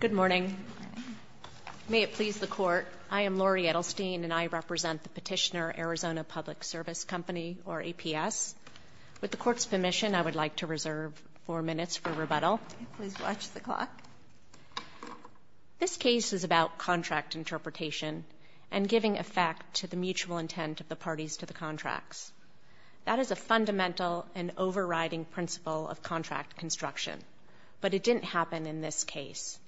Good morning. May it please the Court, I am Laurie Edelstein, and I represent the petitioner Arizona Public Service Company, or APS. With the Court's permission, I would like to reserve four minutes for rebuttal. Please watch the clock. This case is about contract interpretation and giving effect to the mutual intent of the parties to the contracts. That is a fundamental and overriding principle of contract construction. But it didn't happen in this case.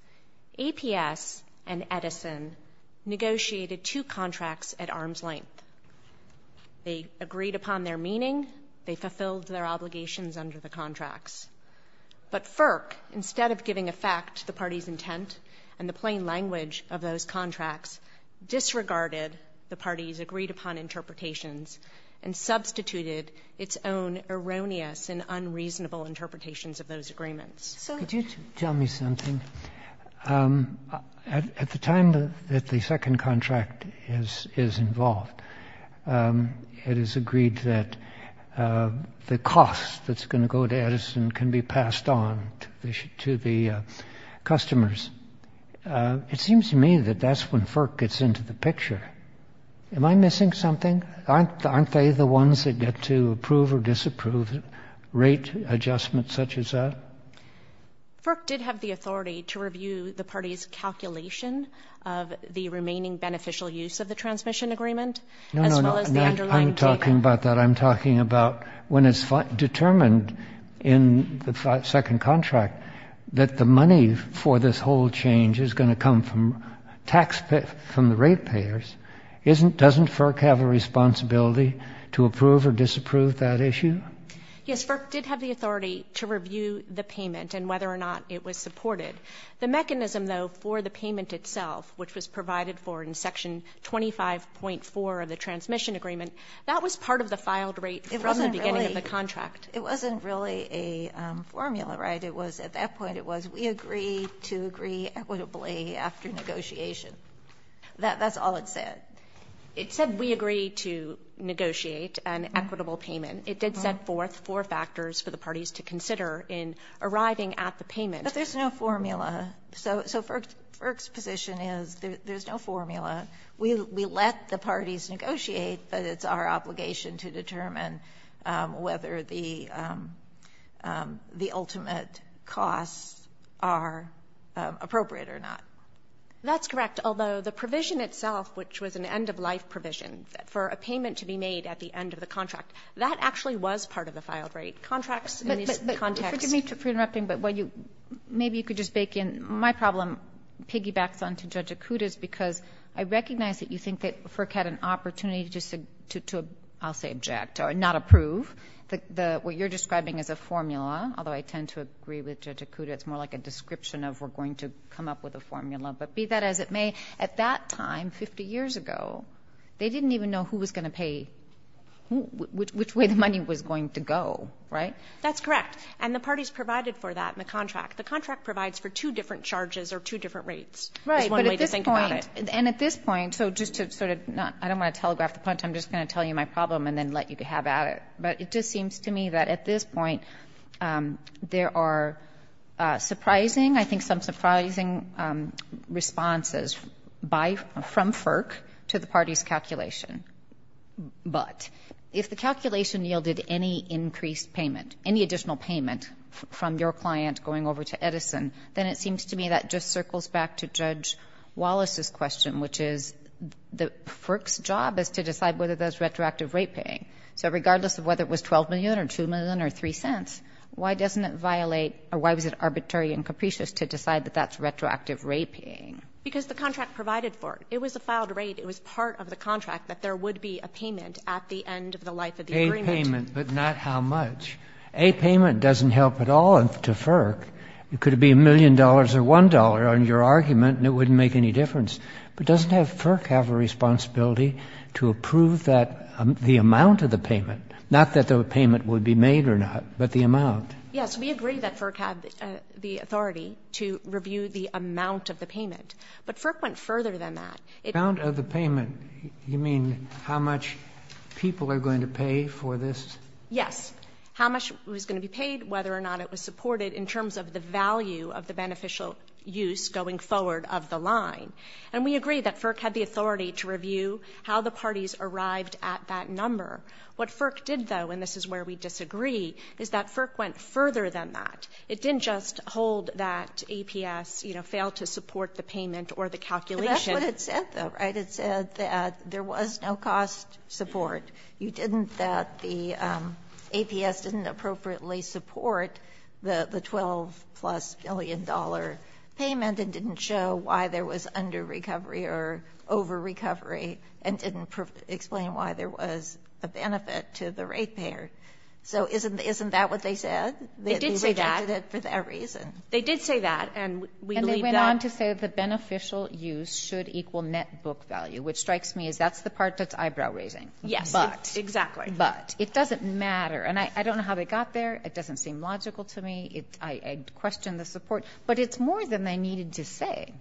APS and Edison negotiated two contracts at arm's length. They agreed upon their meaning. They fulfilled their obligations under the contracts. But FERC, instead of giving effect to the party's intent and the plain language of those contracts, disregarded the parties' agreed-upon interpretations and substituted its own erroneous and unreasonable interpretations of those agreements. So could you tell me something? At the time that the second contract is involved, it is agreed that the cost that's going to go to Edison can be passed on to the customers. It seems to me that that's when FERC gets into the picture. Am I missing something? Aren't they the ones that get to approve or disapprove rate adjustments such as that? FERC did have the authority to review the party's calculation of the remaining beneficial use of the transmission agreement, as well as the underlying data. I'm talking about that. I'm talking about when it's determined in the second contract that the money for this whole change is going to come from the rate payers, doesn't FERC have a responsibility to approve or disapprove that issue? Yes, FERC did have the authority to review the payment and whether or not it was supported. The mechanism, though, for the payment itself, which was provided for in Section 25.4 of the transmission agreement, that was part of the filed rate from the beginning of the contract. It wasn't really a formula, right? It was, at that point, it was we agree to agree equitably after negotiation. That's all it said. It said we agree to negotiate an equitable payment. It did set forth four factors for the parties to consider in arriving at the payment. But there's no formula. So FERC's position is there's no formula. We let the parties negotiate, but it's our obligation to determine whether the ultimate costs are appropriate or not. That's correct, although the provision itself, which was an end-of-life provision for a payment to be made at the end of the contract, that actually was part of the filed rate. Contracts in this context. Forgive me for interrupting, but maybe you could just bake in my problem, piggybacks onto Judge Acuda's, because I recognize that you think that FERC had an opportunity to, I'll say, object or not approve what you're describing as a formula, although I tend to agree with Judge Acuda. It's more like a description of we're going to come up with a formula. But be that as it may, at that time, 50 years ago, they didn't even know who was going to pay, which way the money was going to go, right? That's correct. And the parties provided for that in the contract. The contract provides for two different charges or two different rates. Right, but at this point, and at this point, so just to sort of, I don't want to telegraph the point, I'm just going to tell you my problem and then let you have at it. But it just seems to me that at this point, there are surprising, I think some surprising responses by, from FERC to the party's calculation. But if the calculation yielded any increased payment, any additional payment from your client going over to Edison, then it seems to me that just circles back to Judge Wallace's question, which is the FERC's job is to decide whether that's retroactive rate paying. So regardless of whether it was 12 million or two million or three cents, why doesn't it violate, or why was it arbitrary and capricious to decide that that's retroactive rate paying? Because the contract provided for it. It was a filed rate. It was part of the contract that there would be a payment at the end of the life of the agreement. A payment, but not how much. A payment doesn't help at all to FERC. It could be a million dollars or one dollar on your argument and it wouldn't make any difference. But doesn't FERC have a responsibility to approve the amount of the payment? Not that the payment would be made or not, but the amount. Yes, we agree that FERC had the authority to review the amount of the payment. But FERC went further than that. Amount of the payment, you mean how much people are going to pay for this? Yes, how much was gonna be paid, whether or not it was supported, in terms of the value of the beneficial use going forward of the line. And we agree that FERC had the authority to review how the parties arrived at that number. What FERC did though, and this is where we disagree, is that FERC went further than that. It didn't just hold that APS failed to support the payment or the calculation. That's what it said though, right? It said that there was no cost support. You didn't that the APS didn't appropriately support the 12 plus billion dollar payment and didn't show why there was under-recovery or over-recovery and didn't explain why there was a benefit to the rate payer. So isn't that what they said? They did say that. They rejected it for that reason. They did say that and we believe that. And they went on to say the beneficial use should equal net book value, which strikes me as that's the part that's eyebrow raising. Yes, exactly. But it doesn't matter. And I don't know how they got there. It doesn't seem logical to me. I question the support. But it's more than they needed to say.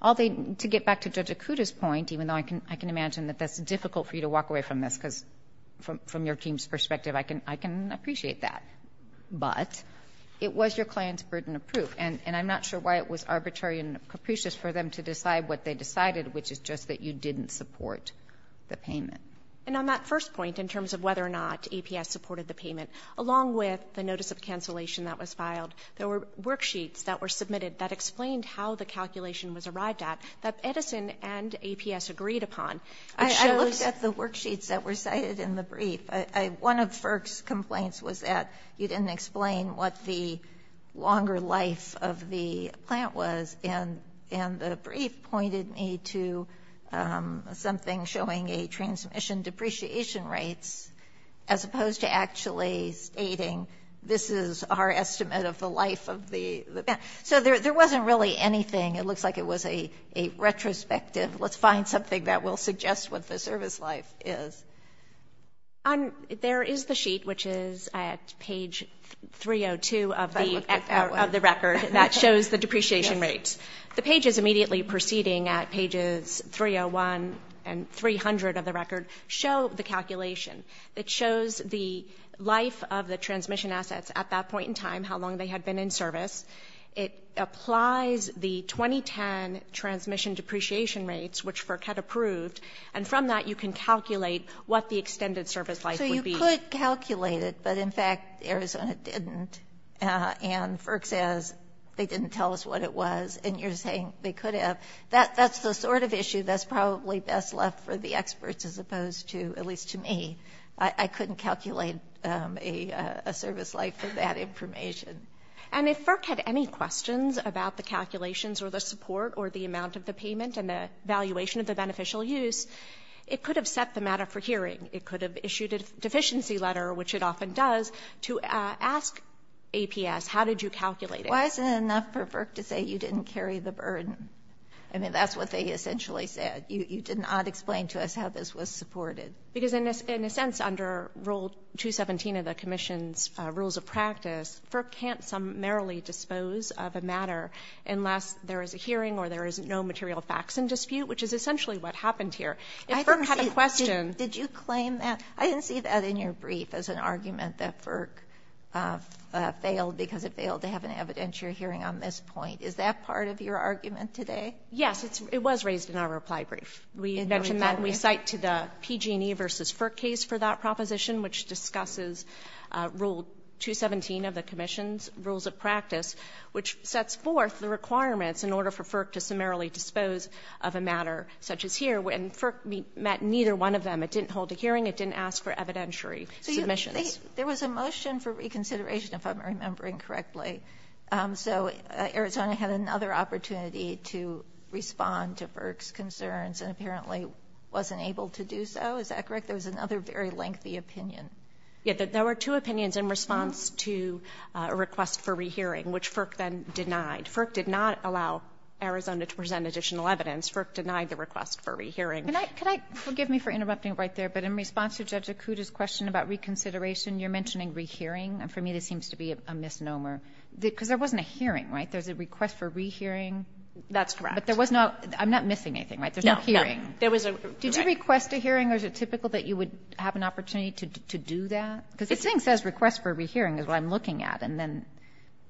All they, to get back to Judge Akuta's point, even though I can imagine that that's difficult for you to walk away from this, because from your team's perspective, I can appreciate that. But it was your client's burden of proof. And I'm not sure why it was arbitrary and capricious for them to decide what they decided, which is just that you didn't support the payment. And on that first point, in terms of whether or not APS supported the payment, along with the notice of cancellation that was filed, there were worksheets that were submitted that explained how the calculation was arrived at that Edison and APS agreed upon. I looked at the worksheets that were cited in the brief. One of FERC's complaints was that you didn't explain what the longer life of the plant was. And the brief pointed me to something showing a transmission depreciation rates, as opposed to actually stating, this is our estimate of the life of the plant. So there wasn't really anything. It looks like it was a retrospective, let's find something that will suggest what the service life is. There is the sheet, which is at page 302 of the record that shows the depreciation rates. The pages immediately preceding at pages 301 and 300 of the record show the calculation. It shows the life of the transmission assets at that point in time, how long they had been in service. It applies the 2010 transmission depreciation rates, which FERC had approved, and from that, you can calculate what the extended service life would be. So you could calculate it, but in fact, Arizona didn't. And FERC says they didn't tell us what it was. And you're saying they could have. That's the sort of issue that's probably best left for the experts, as opposed to, at least to me, I couldn't calculate a service life for that information. And if FERC had any questions about the calculations or the support or the amount of the payment and the valuation of the beneficial use, it could have set the matter for hearing. It could have issued a deficiency letter, which it often does, to ask APS, how did you calculate it? Why isn't it enough for FERC to say you didn't carry the burden? I mean, that's what they essentially said. You did not explain to us how this was supported. Because in a sense, under Rule 217 of the Commission's Rules of Practice, FERC can't summarily dispose of a matter unless there is a hearing or there is no material facts in dispute, which is essentially what happened here. If FERC had a question. Did you claim that? I didn't see that in your brief as an argument that FERC failed because it failed to have an evidentiary hearing on this point. Is that part of your argument today? Yes, it was raised in our reply brief. We mentioned that we cite to the PG&E versus FERC case for that proposition, which discusses Rule 217 of the Commission's Rules of Practice, which sets forth the requirements in order for FERC to summarily dispose of a matter such as here. When FERC met neither one of them, it didn't hold a hearing, it didn't ask for evidentiary submissions. There was a motion for reconsideration, if I'm remembering correctly. So Arizona had another opportunity to respond to FERC's concerns and apparently wasn't able to do so. Is that correct? There was another very lengthy opinion. Yeah, there were two opinions in response to a request for rehearing, which FERC then denied. FERC did not allow Arizona to present additional evidence. FERC denied the request for rehearing. Can I, can I, forgive me for interrupting right there, but in response to Judge Acuda's question about reconsideration, you're mentioning rehearing. And for me, this seems to be a misnomer. Because there wasn't a hearing, right? There's a request for rehearing. That's correct. But there was no, I'm not missing anything, right? There's no hearing. No, no, there was a, right. Did you request a hearing or is it typical that you would have an opportunity to do that? Because this thing says request for rehearing is what I'm looking at, and then.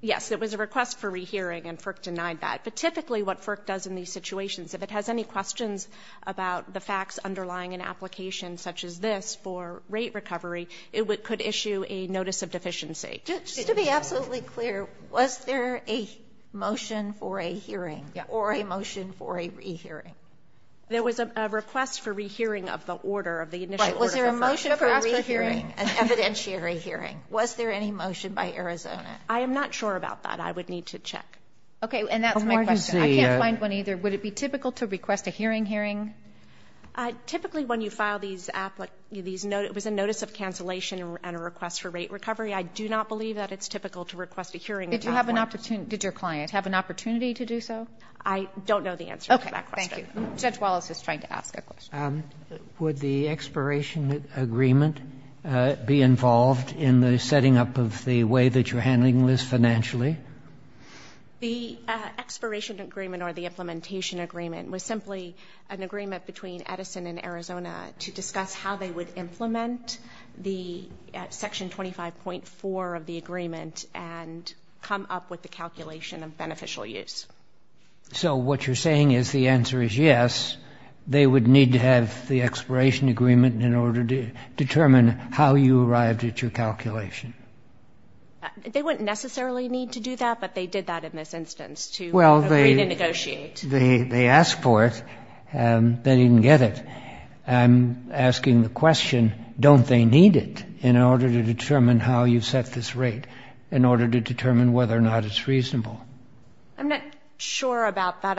Yes, it was a request for rehearing and FERC denied that. But typically what FERC does in these situations, if it has any questions about the facts underlying an application such as this for rate recovery, it could issue a notice of deficiency. Just to be absolutely clear, was there a motion for a hearing or a motion for a rehearing? There was a request for rehearing of the order, of the initial order. Right, was there a motion for rehearing? An evidentiary hearing. Was there any motion by Arizona? I am not sure about that. I would need to check. Okay, and that's my question. I can't find one either. Would it be typical to request a hearing hearing? Typically when you file these, it was a notice of cancellation and a request for rate recovery. I do not believe that it's typical to request a hearing at that point. Did your client have an opportunity to do so? I don't know the answer to that question. Judge Wallace is trying to ask a question. Would the expiration agreement be involved in the setting up of the way that you're handling this financially? The expiration agreement or the implementation agreement was simply an agreement between Edison and Arizona to discuss how they would implement the section 25.4 of the agreement and come up with the calculation of beneficial use. So what you're saying is the answer is yes, they would need to have the expiration agreement in order to determine how you arrived at your calculation. They wouldn't necessarily need to do that, but they did that in this instance to agree to negotiate. They asked for it, they didn't get it. I'm asking the question, don't they need it in order to determine how you set this rate, in order to determine whether or not it's reasonable? I'm not sure about that.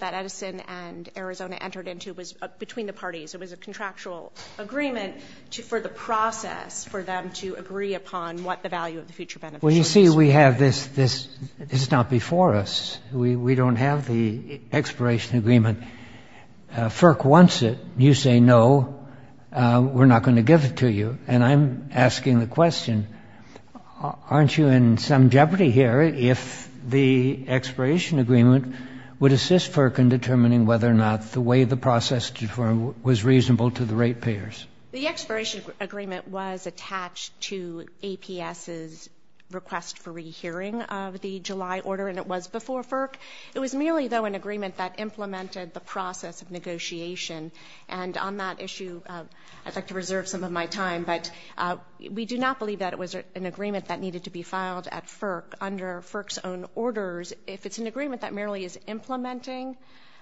that Edison and Arizona entered into was between the parties. It was a contractual agreement for the process for them to agree upon what the value of the future benefits was. Well, you see, we have this, it's not before us. We don't have the expiration agreement. FERC wants it. You say no, we're not gonna give it to you. And I'm asking the question, aren't you in some jeopardy here if the expiration agreement would assist FERC in determining whether or not the way the process was reasonable to the rate payers? The expiration agreement was attached to APS's request for rehearing of the July order, and it was before FERC. It was merely, though, an agreement that implemented the process of negotiation. And on that issue, I'd like to reserve some of my time, but we do not believe that it was an agreement that needed to be filed at FERC under FERC's own orders. If it's an agreement that merely is implementing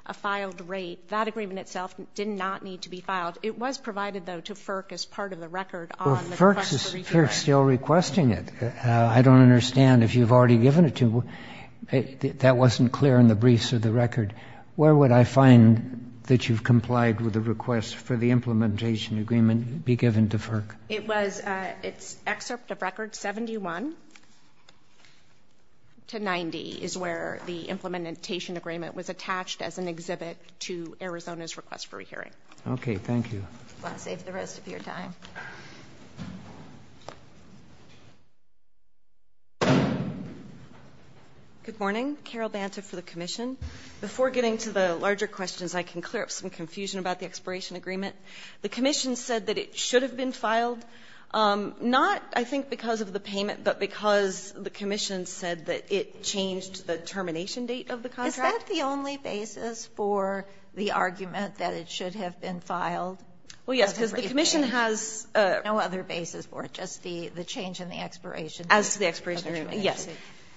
a filed rate, that agreement itself did not need to be filed. It was provided, though, to FERC as part of the record on the request for rehearing. Well, FERC's still requesting it. I don't understand if you've already given it to, that wasn't clear in the briefs of the record. Where would I find that you've complied with the request for the implementation agreement be given to FERC? It was, it's excerpt of record 71 to 90 is where the implementation agreement was attached as an exhibit to Arizona's request for rehearing. Okay, thank you. I'll save the rest of your time. Good morning, Carol Banta for the commission. Before getting to the larger questions, I can clear up some confusion about the expiration agreement. The commission said that it should have been filed, not, I think, because of the payment, but because the commission said that it changed the termination date of the contract. Is that the only basis for the argument that it should have been filed? Well, yes, because the commission has. No other basis for it, just the change in the expiration. As to the expiration agreement, yes.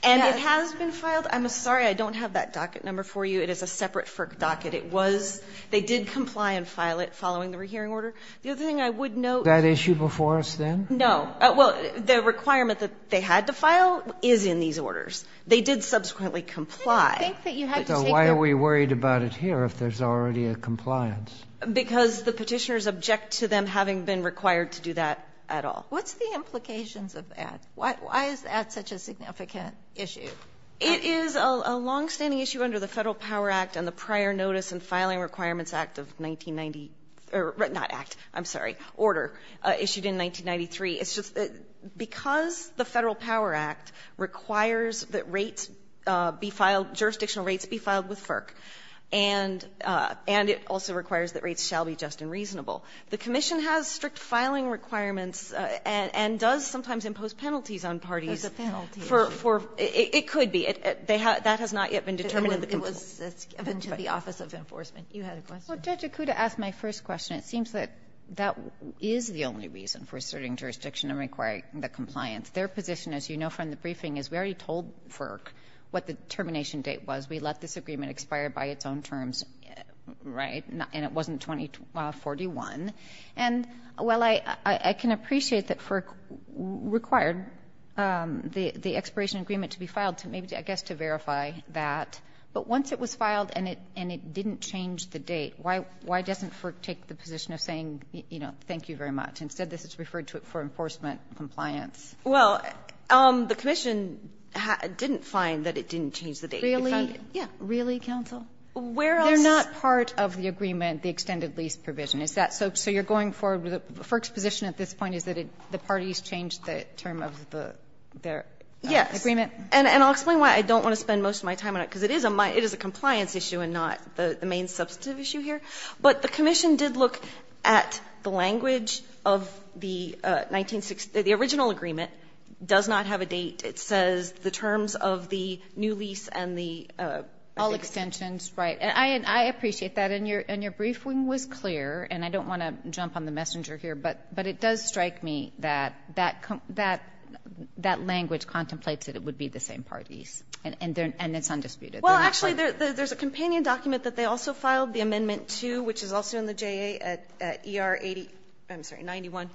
And it has been filed. I'm sorry, I don't have that docket number for you. It is a separate FERC docket. It was, they did comply and file it following the rehearing order. The other thing I would note. That issue before us then? No, well, the requirement that they had to file is in these orders. They did subsequently comply. I didn't think that you had to take the... So why are we worried about it here if there's already a compliance? Because the petitioners object to them having been required to do that at all. What's the implications of that? Why is that such a significant issue? It is a longstanding issue under the Federal Power Act and the Prior Notice and Filing Requirements Act of 1990, or not Act, I'm sorry, Order, issued in 1993. It's just that because the Federal Power Act requires that rates be filed, jurisdictional rates be filed with FERC, and it also requires that rates shall be just and reasonable. The Commission has strict filing requirements and does sometimes impose penalties on parties. There's a penalty issue. It could be. That has not yet been determined in the... It was given to the Office of Enforcement. You had a question. Judge Acuda asked my first question. It seems that that is the only reason for asserting jurisdiction and requiring the compliance. Their position, as you know from the briefing, is we already told FERC what the termination date was. We let this agreement expire by its own terms, right? And it wasn't 2041. And, well, I can appreciate that FERC required the expiration agreement to be filed, to maybe, I guess, to verify that. But once it was filed and it didn't change the date, why doesn't FERC take the position of saying, you know, thank you very much? Instead, this is referred to it for enforcement compliance. Well, the commission didn't find that it didn't change the date. Really? Yeah. Really, counsel? Where else... They're not part of the agreement, the extended lease provision. Is that so? So you're going for the FERC's position at this point is that the parties changed the term of their agreement? Yes. And I'll explain why I don't want to spend most of my time on it, because it is a compliance issue and not the main substantive issue here. But the commission did look at the language of the 1960s, the original agreement does not have a date. It says the terms of the new lease and the... All extensions, right. And I appreciate that. And your briefing was clear. And I don't want to jump on the messenger here, but it does strike me that that language contemplates that it would be the same parties and it's undisputed. Well, actually, there's a companion document that they also filed the amendment to, which is also in the JA at ER 80... I'm sorry, 91,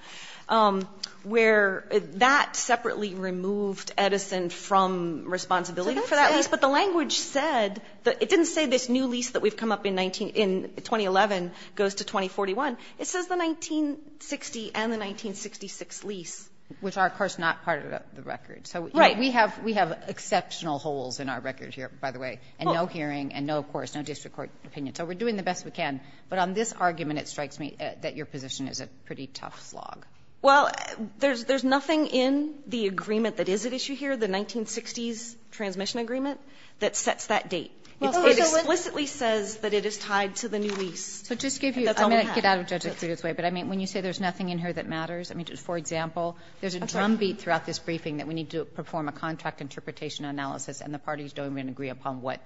where that separately removed Edison from responsibility for that lease. But the language said that... It didn't say this new lease that we've come up in 2011 goes to 2041. It says the 1960 and the 1966 lease. Which are, of course, not part of the record. So we have exceptional holes in our record here, by the way, and no hearing and no, of course, no district court opinion. So we're doing the best we can. But on this argument, it strikes me that your position is a pretty tough slog. Well, there's nothing in the agreement that is at issue here, the 1960s transmission agreement, that sets that date. It explicitly says that it is tied to the new lease. So just give you... I'm going to get out of Judge's way, but I mean, when you say there's nothing in here that matters, I mean, for example, there's a drumbeat throughout this briefing that we need to perform a contract interpretation analysis and the parties don't even agree upon what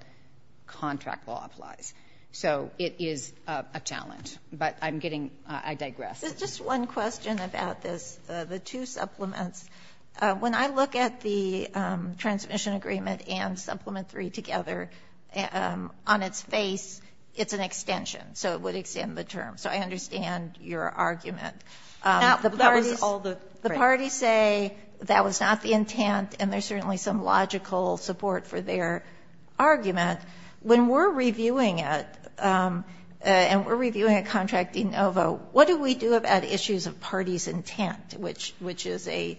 contract law applies. So it is a challenge. But I'm getting — I digress. There's just one question about this, the two supplements. When I look at the transmission agreement and Supplement 3 together, on its face, it's an extension. So it would extend the term. So I understand your argument. The parties say that was not the intent, and there's certainly some logical support for their argument. When we're reviewing it, and we're reviewing a contract in OVO, what do we do about issues of parties' intent, which is a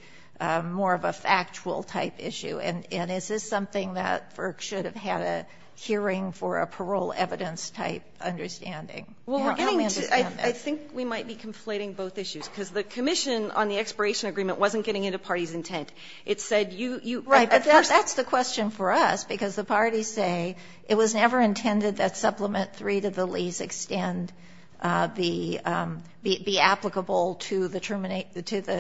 more of a factual-type issue? And is this something that FERC should have had a hearing for a parole evidence-type understanding? How do we understand that? I think we might be conflating both issues, because the commission on the expiration agreement wasn't getting into parties' intent. It said you... Right, but that's the question for us, because the parties say it was never intended that Supplement 3 to the lease extend be applicable to the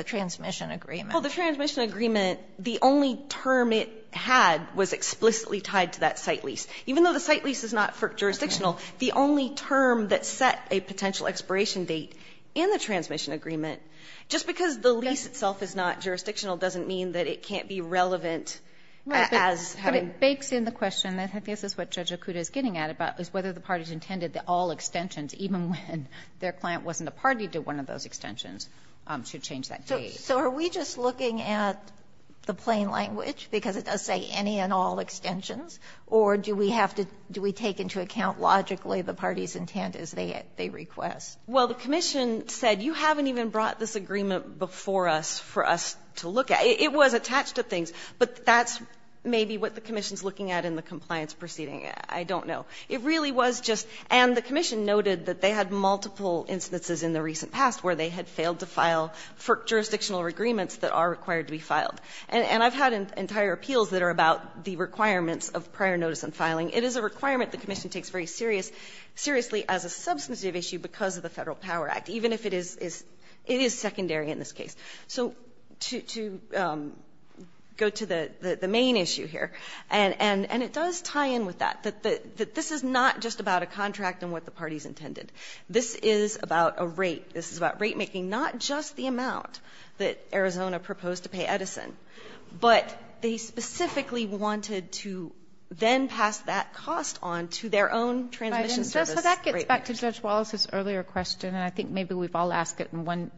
transmission agreement. Well, the transmission agreement, the only term it had was explicitly tied to that site lease. Even though the site lease is not FERC jurisdictional, the only term that set a potential expiration date in the transmission agreement, just because the lease itself is not jurisdictional doesn't mean that it can't be relevant as having... But it bakes in the question that this is what Judge Okuda is getting at, about whether the parties intended that all extensions, even when their client wasn't a party to one of those extensions, should change that date. So are we just looking at the plain language, because it does say any and all extensions, or do we have to do we take into account logically the parties' intent as they request? Well, the commission said you haven't even brought this agreement before us for us to look at. It was attached to things, but that's maybe what the commission is looking at in the compliance proceeding. I don't know. It really was just and the commission noted that they had multiple instances in the recent past where they had failed to file FERC jurisdictional agreements that are required to be filed. And I've had entire appeals that are about the requirements of prior notice and filing. It is a requirement the commission takes very seriously as a substantive issue because of the Federal Power Act, even if it is secondary in this case. So to go to the main issue here, and it does tie in with that, that this is not just about a contract and what the parties intended. This is about a rate. This is about rate making, not just the amount that Arizona proposed to pay Edison, but they specifically wanted to then pass that cost on to their own transmission service. So that gets back to Judge Wallace's earlier question, and I think maybe we've all asked it in one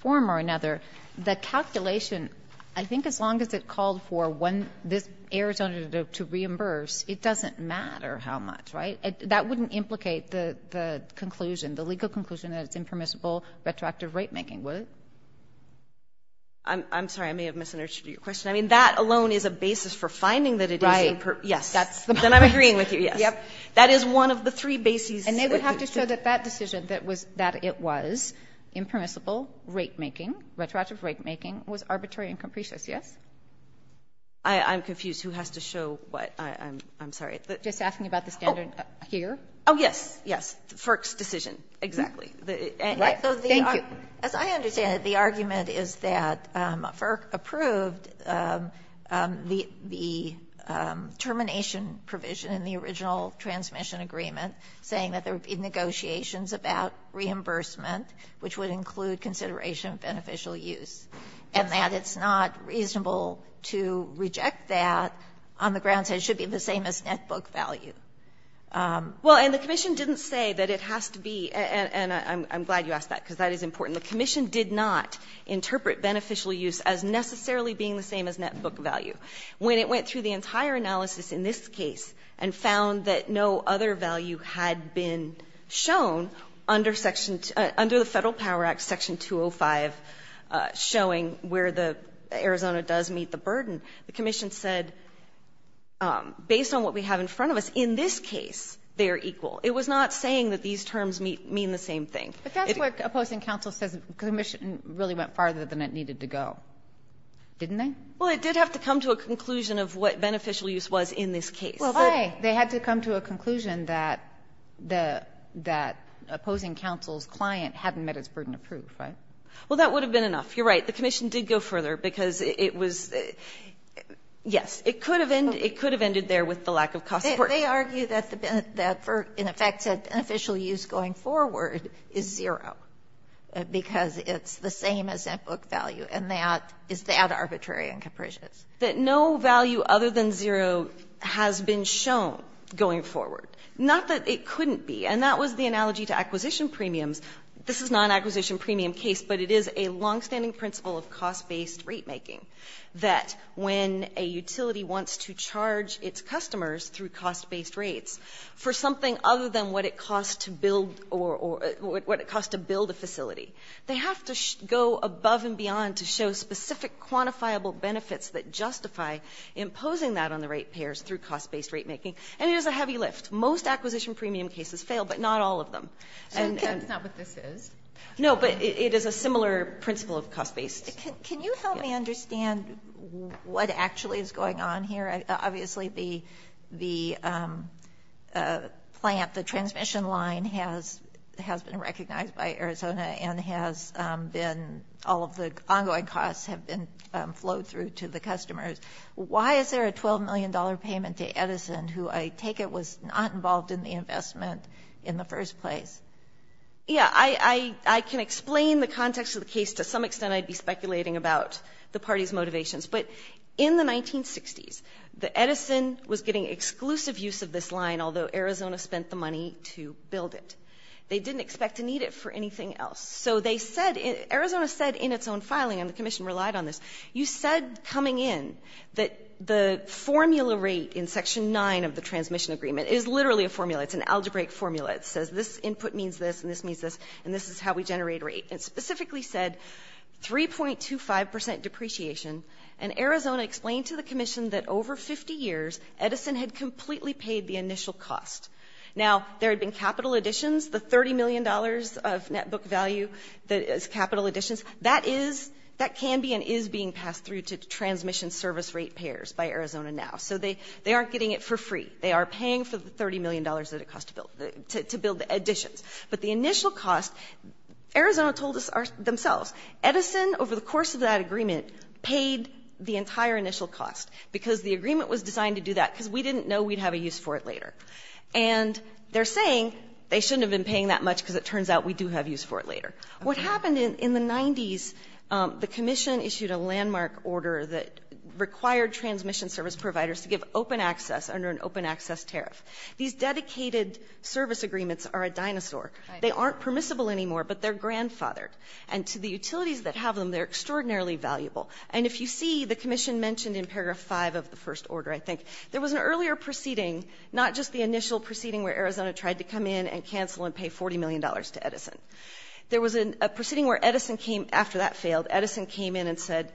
form or another. The calculation, I think as long as it called for one, this Arizona to reimburse, it doesn't matter how much, right? That wouldn't implicate the conclusion, the legal conclusion that it's impermissible retroactive rate making, would it? I'm sorry. I may have misinterpreted your question. I mean, that alone is a basis for finding that Edison. Right. Yes. That's the point. Then I'm agreeing with you. Yes. Yes. That is one of the three bases. And they would have to show that that decision that it was impermissible rate making, retroactive rate making, was arbitrary and capricious, yes? I'm confused. Who has to show what? I'm sorry. Just asking about the standard here. Oh, yes. Yes. FERC's decision, exactly. Right. Thank you. As I understand it, the argument is that FERC approved the termination provision in the original transmission agreement, saying that there would be negotiations about reimbursement, which would include consideration of beneficial use, and that it's not reasonable to reject that on the grounds that it should be the same as net book value. Well, and the commission didn't say that it has to be, and I'm glad you asked that because that is important, the commission did not interpret beneficial use as necessarily being the same as net book value. When it went through the entire analysis in this case and found that no other value had been shown under section, under the Federal Power Act, section 205, showing where the, Arizona does meet the burden, the commission said, based on what we have in front of us, in this case, they are equal. It was not saying that these terms mean the same thing. But that's what opposing counsel says, the commission really went farther than it needed to go, didn't they? Well, it did have to come to a conclusion of what beneficial use was in this case. Well, why? They had to come to a conclusion that the, that opposing counsel's client hadn't met its burden of proof, right? Well, that would have been enough. You're right. The commission did go further because it was, yes, it could have ended there with the lack of cost support. They argue that the, that for, in effect, said beneficial use going forward is zero because it's the same as in-book value, and that, is that arbitrary and capricious? That no value other than zero has been shown going forward. Not that it couldn't be, and that was the analogy to acquisition premiums. This is not an acquisition premium case, but it is a longstanding principle of cost-based rate making, that when a utility wants to charge its customers through cost-based rates for something other than what it costs to build, or what it costs to build a facility, they have to go above and beyond to show specific quantifiable benefits that justify imposing that on the rate payers through cost-based rate making, and it is a heavy lift. Most acquisition premium cases fail, but not all of them. So that's not what this is? No, but it is a similar principle of cost-based. Can you help me understand what actually is going on here? Obviously, the plant, the transmission line has been recognized by Arizona and has been, all of the ongoing costs have been flowed through to the customers. Why is there a $12 million payment to Edison, who I take it was not involved in the investment in the first place? Yeah, I can explain the context of the case. To some extent, I'd be speculating about the party's motivations. But in the 1960s, Edison was getting exclusive use of this line, although Arizona spent the money to build it. They didn't expect to need it for anything else. So they said, Arizona said in its own filing, and the Commission relied on this, you said coming in that the formula rate in Section 9 of the Transmission Agreement is literally a formula. It's an algebraic formula. It says this input means this, and this means this, and this is how we generate rate. It specifically said 3.25% depreciation, and Arizona explained to the Commission that over 50 years, Edison had completely paid the initial cost. Now, there had been capital additions, the $30 million of net book value that is capital additions. That can be and is being passed through to transmission service rate payers by Arizona now. So they aren't getting it for free. They are paying for the $30 million that it cost to build the additions. But the initial cost, Arizona told us themselves, Edison over the course of that agreement paid the entire initial cost because the agreement was designed to do that because we didn't know we'd have a use for it later. And they're saying they shouldn't have been paying that much because it turns out we do have use for it later. What happened in the 90s, the Commission issued a landmark order that required transmission service providers to give open access under an open access tariff. These dedicated service agreements are a dinosaur. They aren't permissible anymore, but they're grandfathered. And to the utilities that have them, they're extraordinarily valuable. And if you see, the Commission mentioned in paragraph five of the first order, I think, there was an earlier proceeding, not just the initial proceeding where Arizona tried to come in and cancel and pay $40 million to Edison. There was a proceeding where Edison came, after that failed, Edison came in and said,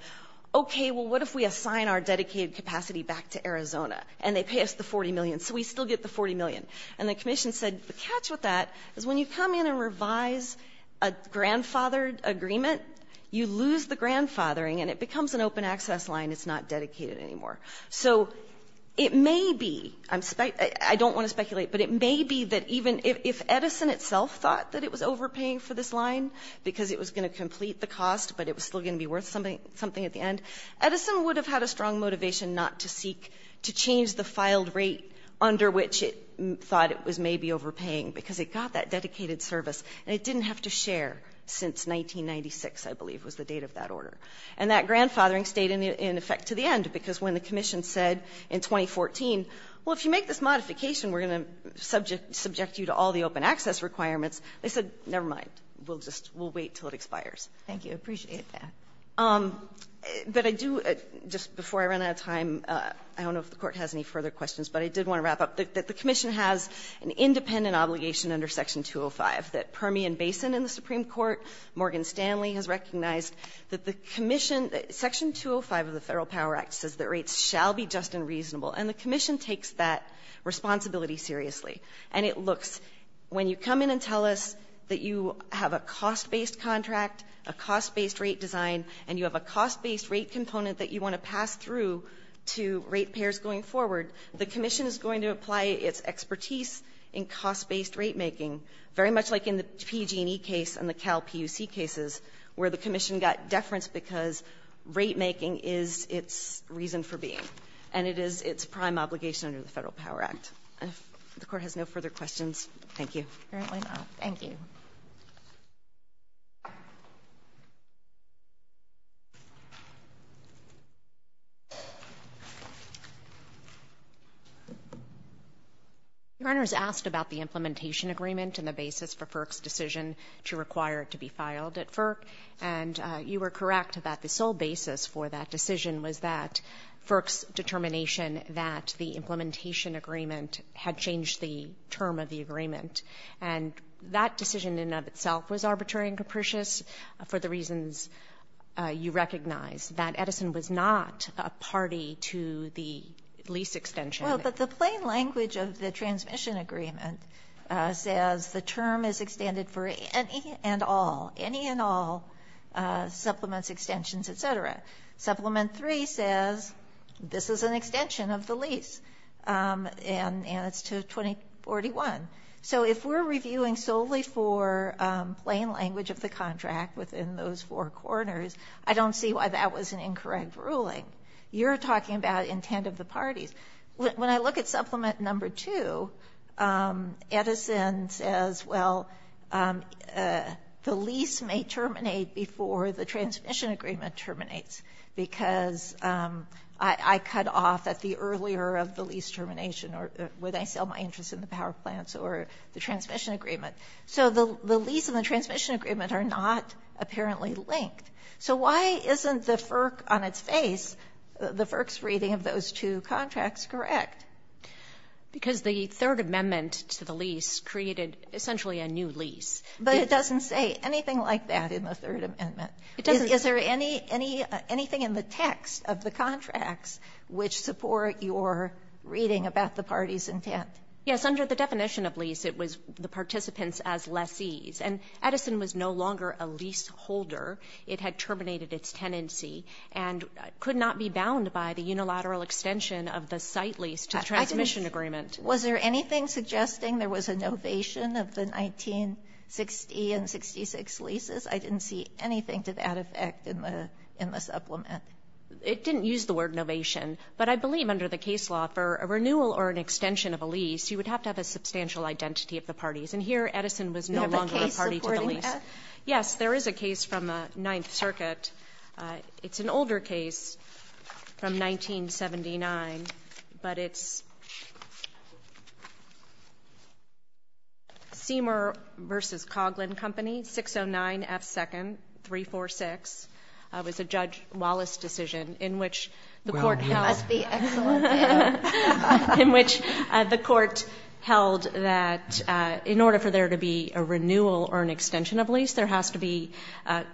okay, well, what if we assign our dedicated capacity back to Arizona? And they pay us the $40 million. So we still get the $40 million. And the Commission said, the catch with that is when you come in and revise a grandfathered agreement, you lose the grandfathering and it becomes an open access line, it's not dedicated anymore. So it may be, I don't want to speculate, but it may be that even if Edison itself thought that it was overpaying for this line because it was going to complete the cost, but it was still going to be worth something at the end, Edison would have had a strong motivation not to seek to change the filed rate under which it thought it was maybe overpaying because it got that dedicated service and it didn't have to share since 1996, I believe, was the date of that order. And that grandfathering stayed in effect to the end because when the Commission said in 2014, well, if you make this modification, we're going to subject you to all the open access requirements. They said, never mind, we'll just, we'll wait until it expires. Thank you, I appreciate that. But I do, just before I run out of time, I don't know if the Court has any further questions, but I did want to wrap up. The Commission has an independent obligation under Section 205 that Permian Basin in the Supreme Court, Morgan Stanley has recognized that the Commission, Section 205 of the Federal Power Act says that rates shall be just and reasonable, and the Commission takes that responsibility seriously. And it looks, when you come in and tell us that you have a cost-based contract, a cost-based rate design, and you have a cost-based rate component that you want to pass through to rate payers going forward, the Commission is going to apply its expertise in cost-based rate making, very much like in the PG&E case and the Cal PUC cases, where the Commission got deference because rate making is its reason for being, and it is its prime obligation under the Federal Power Act. And if the Court has no further questions, thank you. Apparently not. Thank you. Your Honor's asked about the implementation agreement and the basis for FERC's decision to require it to be filed at FERC, and you were correct about the sole basis for that decision was that FERC's determination that the implementation agreement had changed the term of the agreement. And that decision in and of itself was arbitrary and capricious for the reasons you recognize, that Edison was not a party to the lease extension. Well, but the plain language of the transmission agreement says the term is extended for any and all, any and all supplements, extensions, et cetera. Supplement three says, this is an extension of the lease, and it's to 2041. So if we're reviewing solely for plain language of the contract within those four corners, I don't see why that was an incorrect ruling, you're talking about intent of the parties. When I look at supplement number two, Edison says, well, the lease may terminate before the transmission agreement terminates. Because I cut off at the earlier of the lease termination, or when I sell my interest in the power plants, or the transmission agreement. So the lease and the transmission agreement are not apparently linked. So why isn't the FERC on its face, the FERC's reading of those two contracts correct? Because the Third Amendment to the lease created essentially a new lease. But it doesn't say anything like that in the Third Amendment. It doesn't. Is there anything in the text of the contracts which support your reading about the party's intent? Yes. Under the definition of lease, it was the participants as lessees. And Edison was no longer a leaseholder. It had terminated its tenancy and could not be bound by the unilateral extension of the site lease to the transmission agreement. Was there anything suggesting there was a novation of the 1960 and 66 leases? I didn't see anything to that effect in the supplement. It didn't use the word novation. But I believe under the case law, for a renewal or an extension of a lease, you would have to have a substantial identity of the parties. And here Edison was no longer a party to the lease. Do you have a case supporting that? Yes. There is a case from the Ninth Circuit. It's an older case from 1979, but it's Seamer v. Coghlan Company, 609F2nd, 346, it was a Judge Wallace decision in which the court held the court held that in order for there to be a renewal or an extension of a lease, there has to be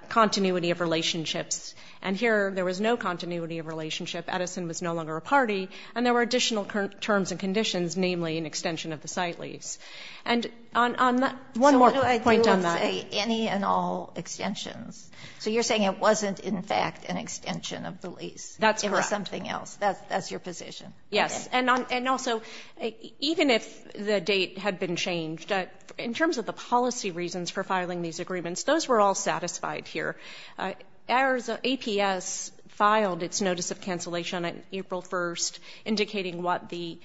continuity of relationships. And here there was no continuity of relationship. Edison was no longer a party. And there were additional terms and conditions, namely an extension of the site lease. And on that, one more point on that. So what do I do with, say, any and all extensions? So you're saying it wasn't in fact an extension of the lease. That's correct. It was something else. That's your position? And also, even if the date had been changed, in terms of the policy reasons for filing these agreements, those were all satisfied here. Ours, APS, filed its notice of cancellation on April 1st, indicating what the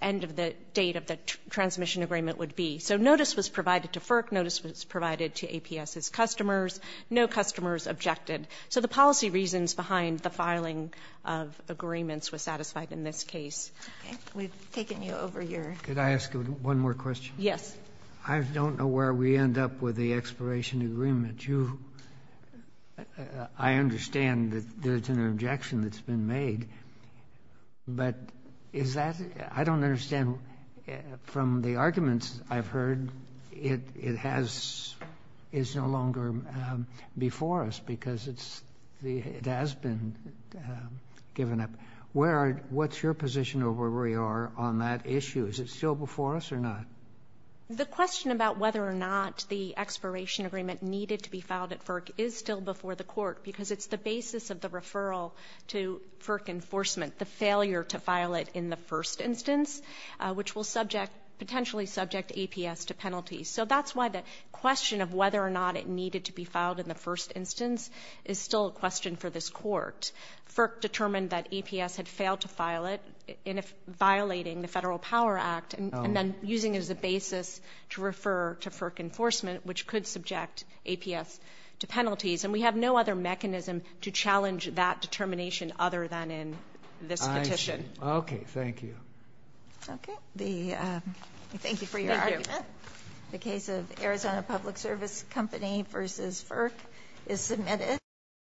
end of the date of the transmission agreement would be. So notice was provided to FERC, notice was provided to APS's customers, no customers objected. So the policy reasons behind the filing of agreements was satisfied in this case. We've taken you over your Could I ask one more question? Yes. I don't know where we end up with the expiration agreement. You, I understand that there's an objection that's been made, but is that, I don't understand, from the arguments I've heard, it is no longer before us because it has been given up. Where are, what's your position of where we are on that issue? Is it still before us or not? The question about whether or not the expiration agreement needed to be filed at FERC is still before the court because it's the basis of the referral to FERC enforcement, the failure to file it in the first instance, which will subject, potentially subject APS to penalties. So that's why the question of whether or not it needed to be filed in the first instance is still a question for this court. FERC determined that APS had failed to file it, violating the Federal Power Act, and then using it as a basis to refer to FERC enforcement, which could subject APS to penalties. And we have no other mechanism to challenge that determination other than in this petition. Okay. Thank you. Okay. The, thank you for your argument. The case of Arizona Public Service Company versus FERC is submitted.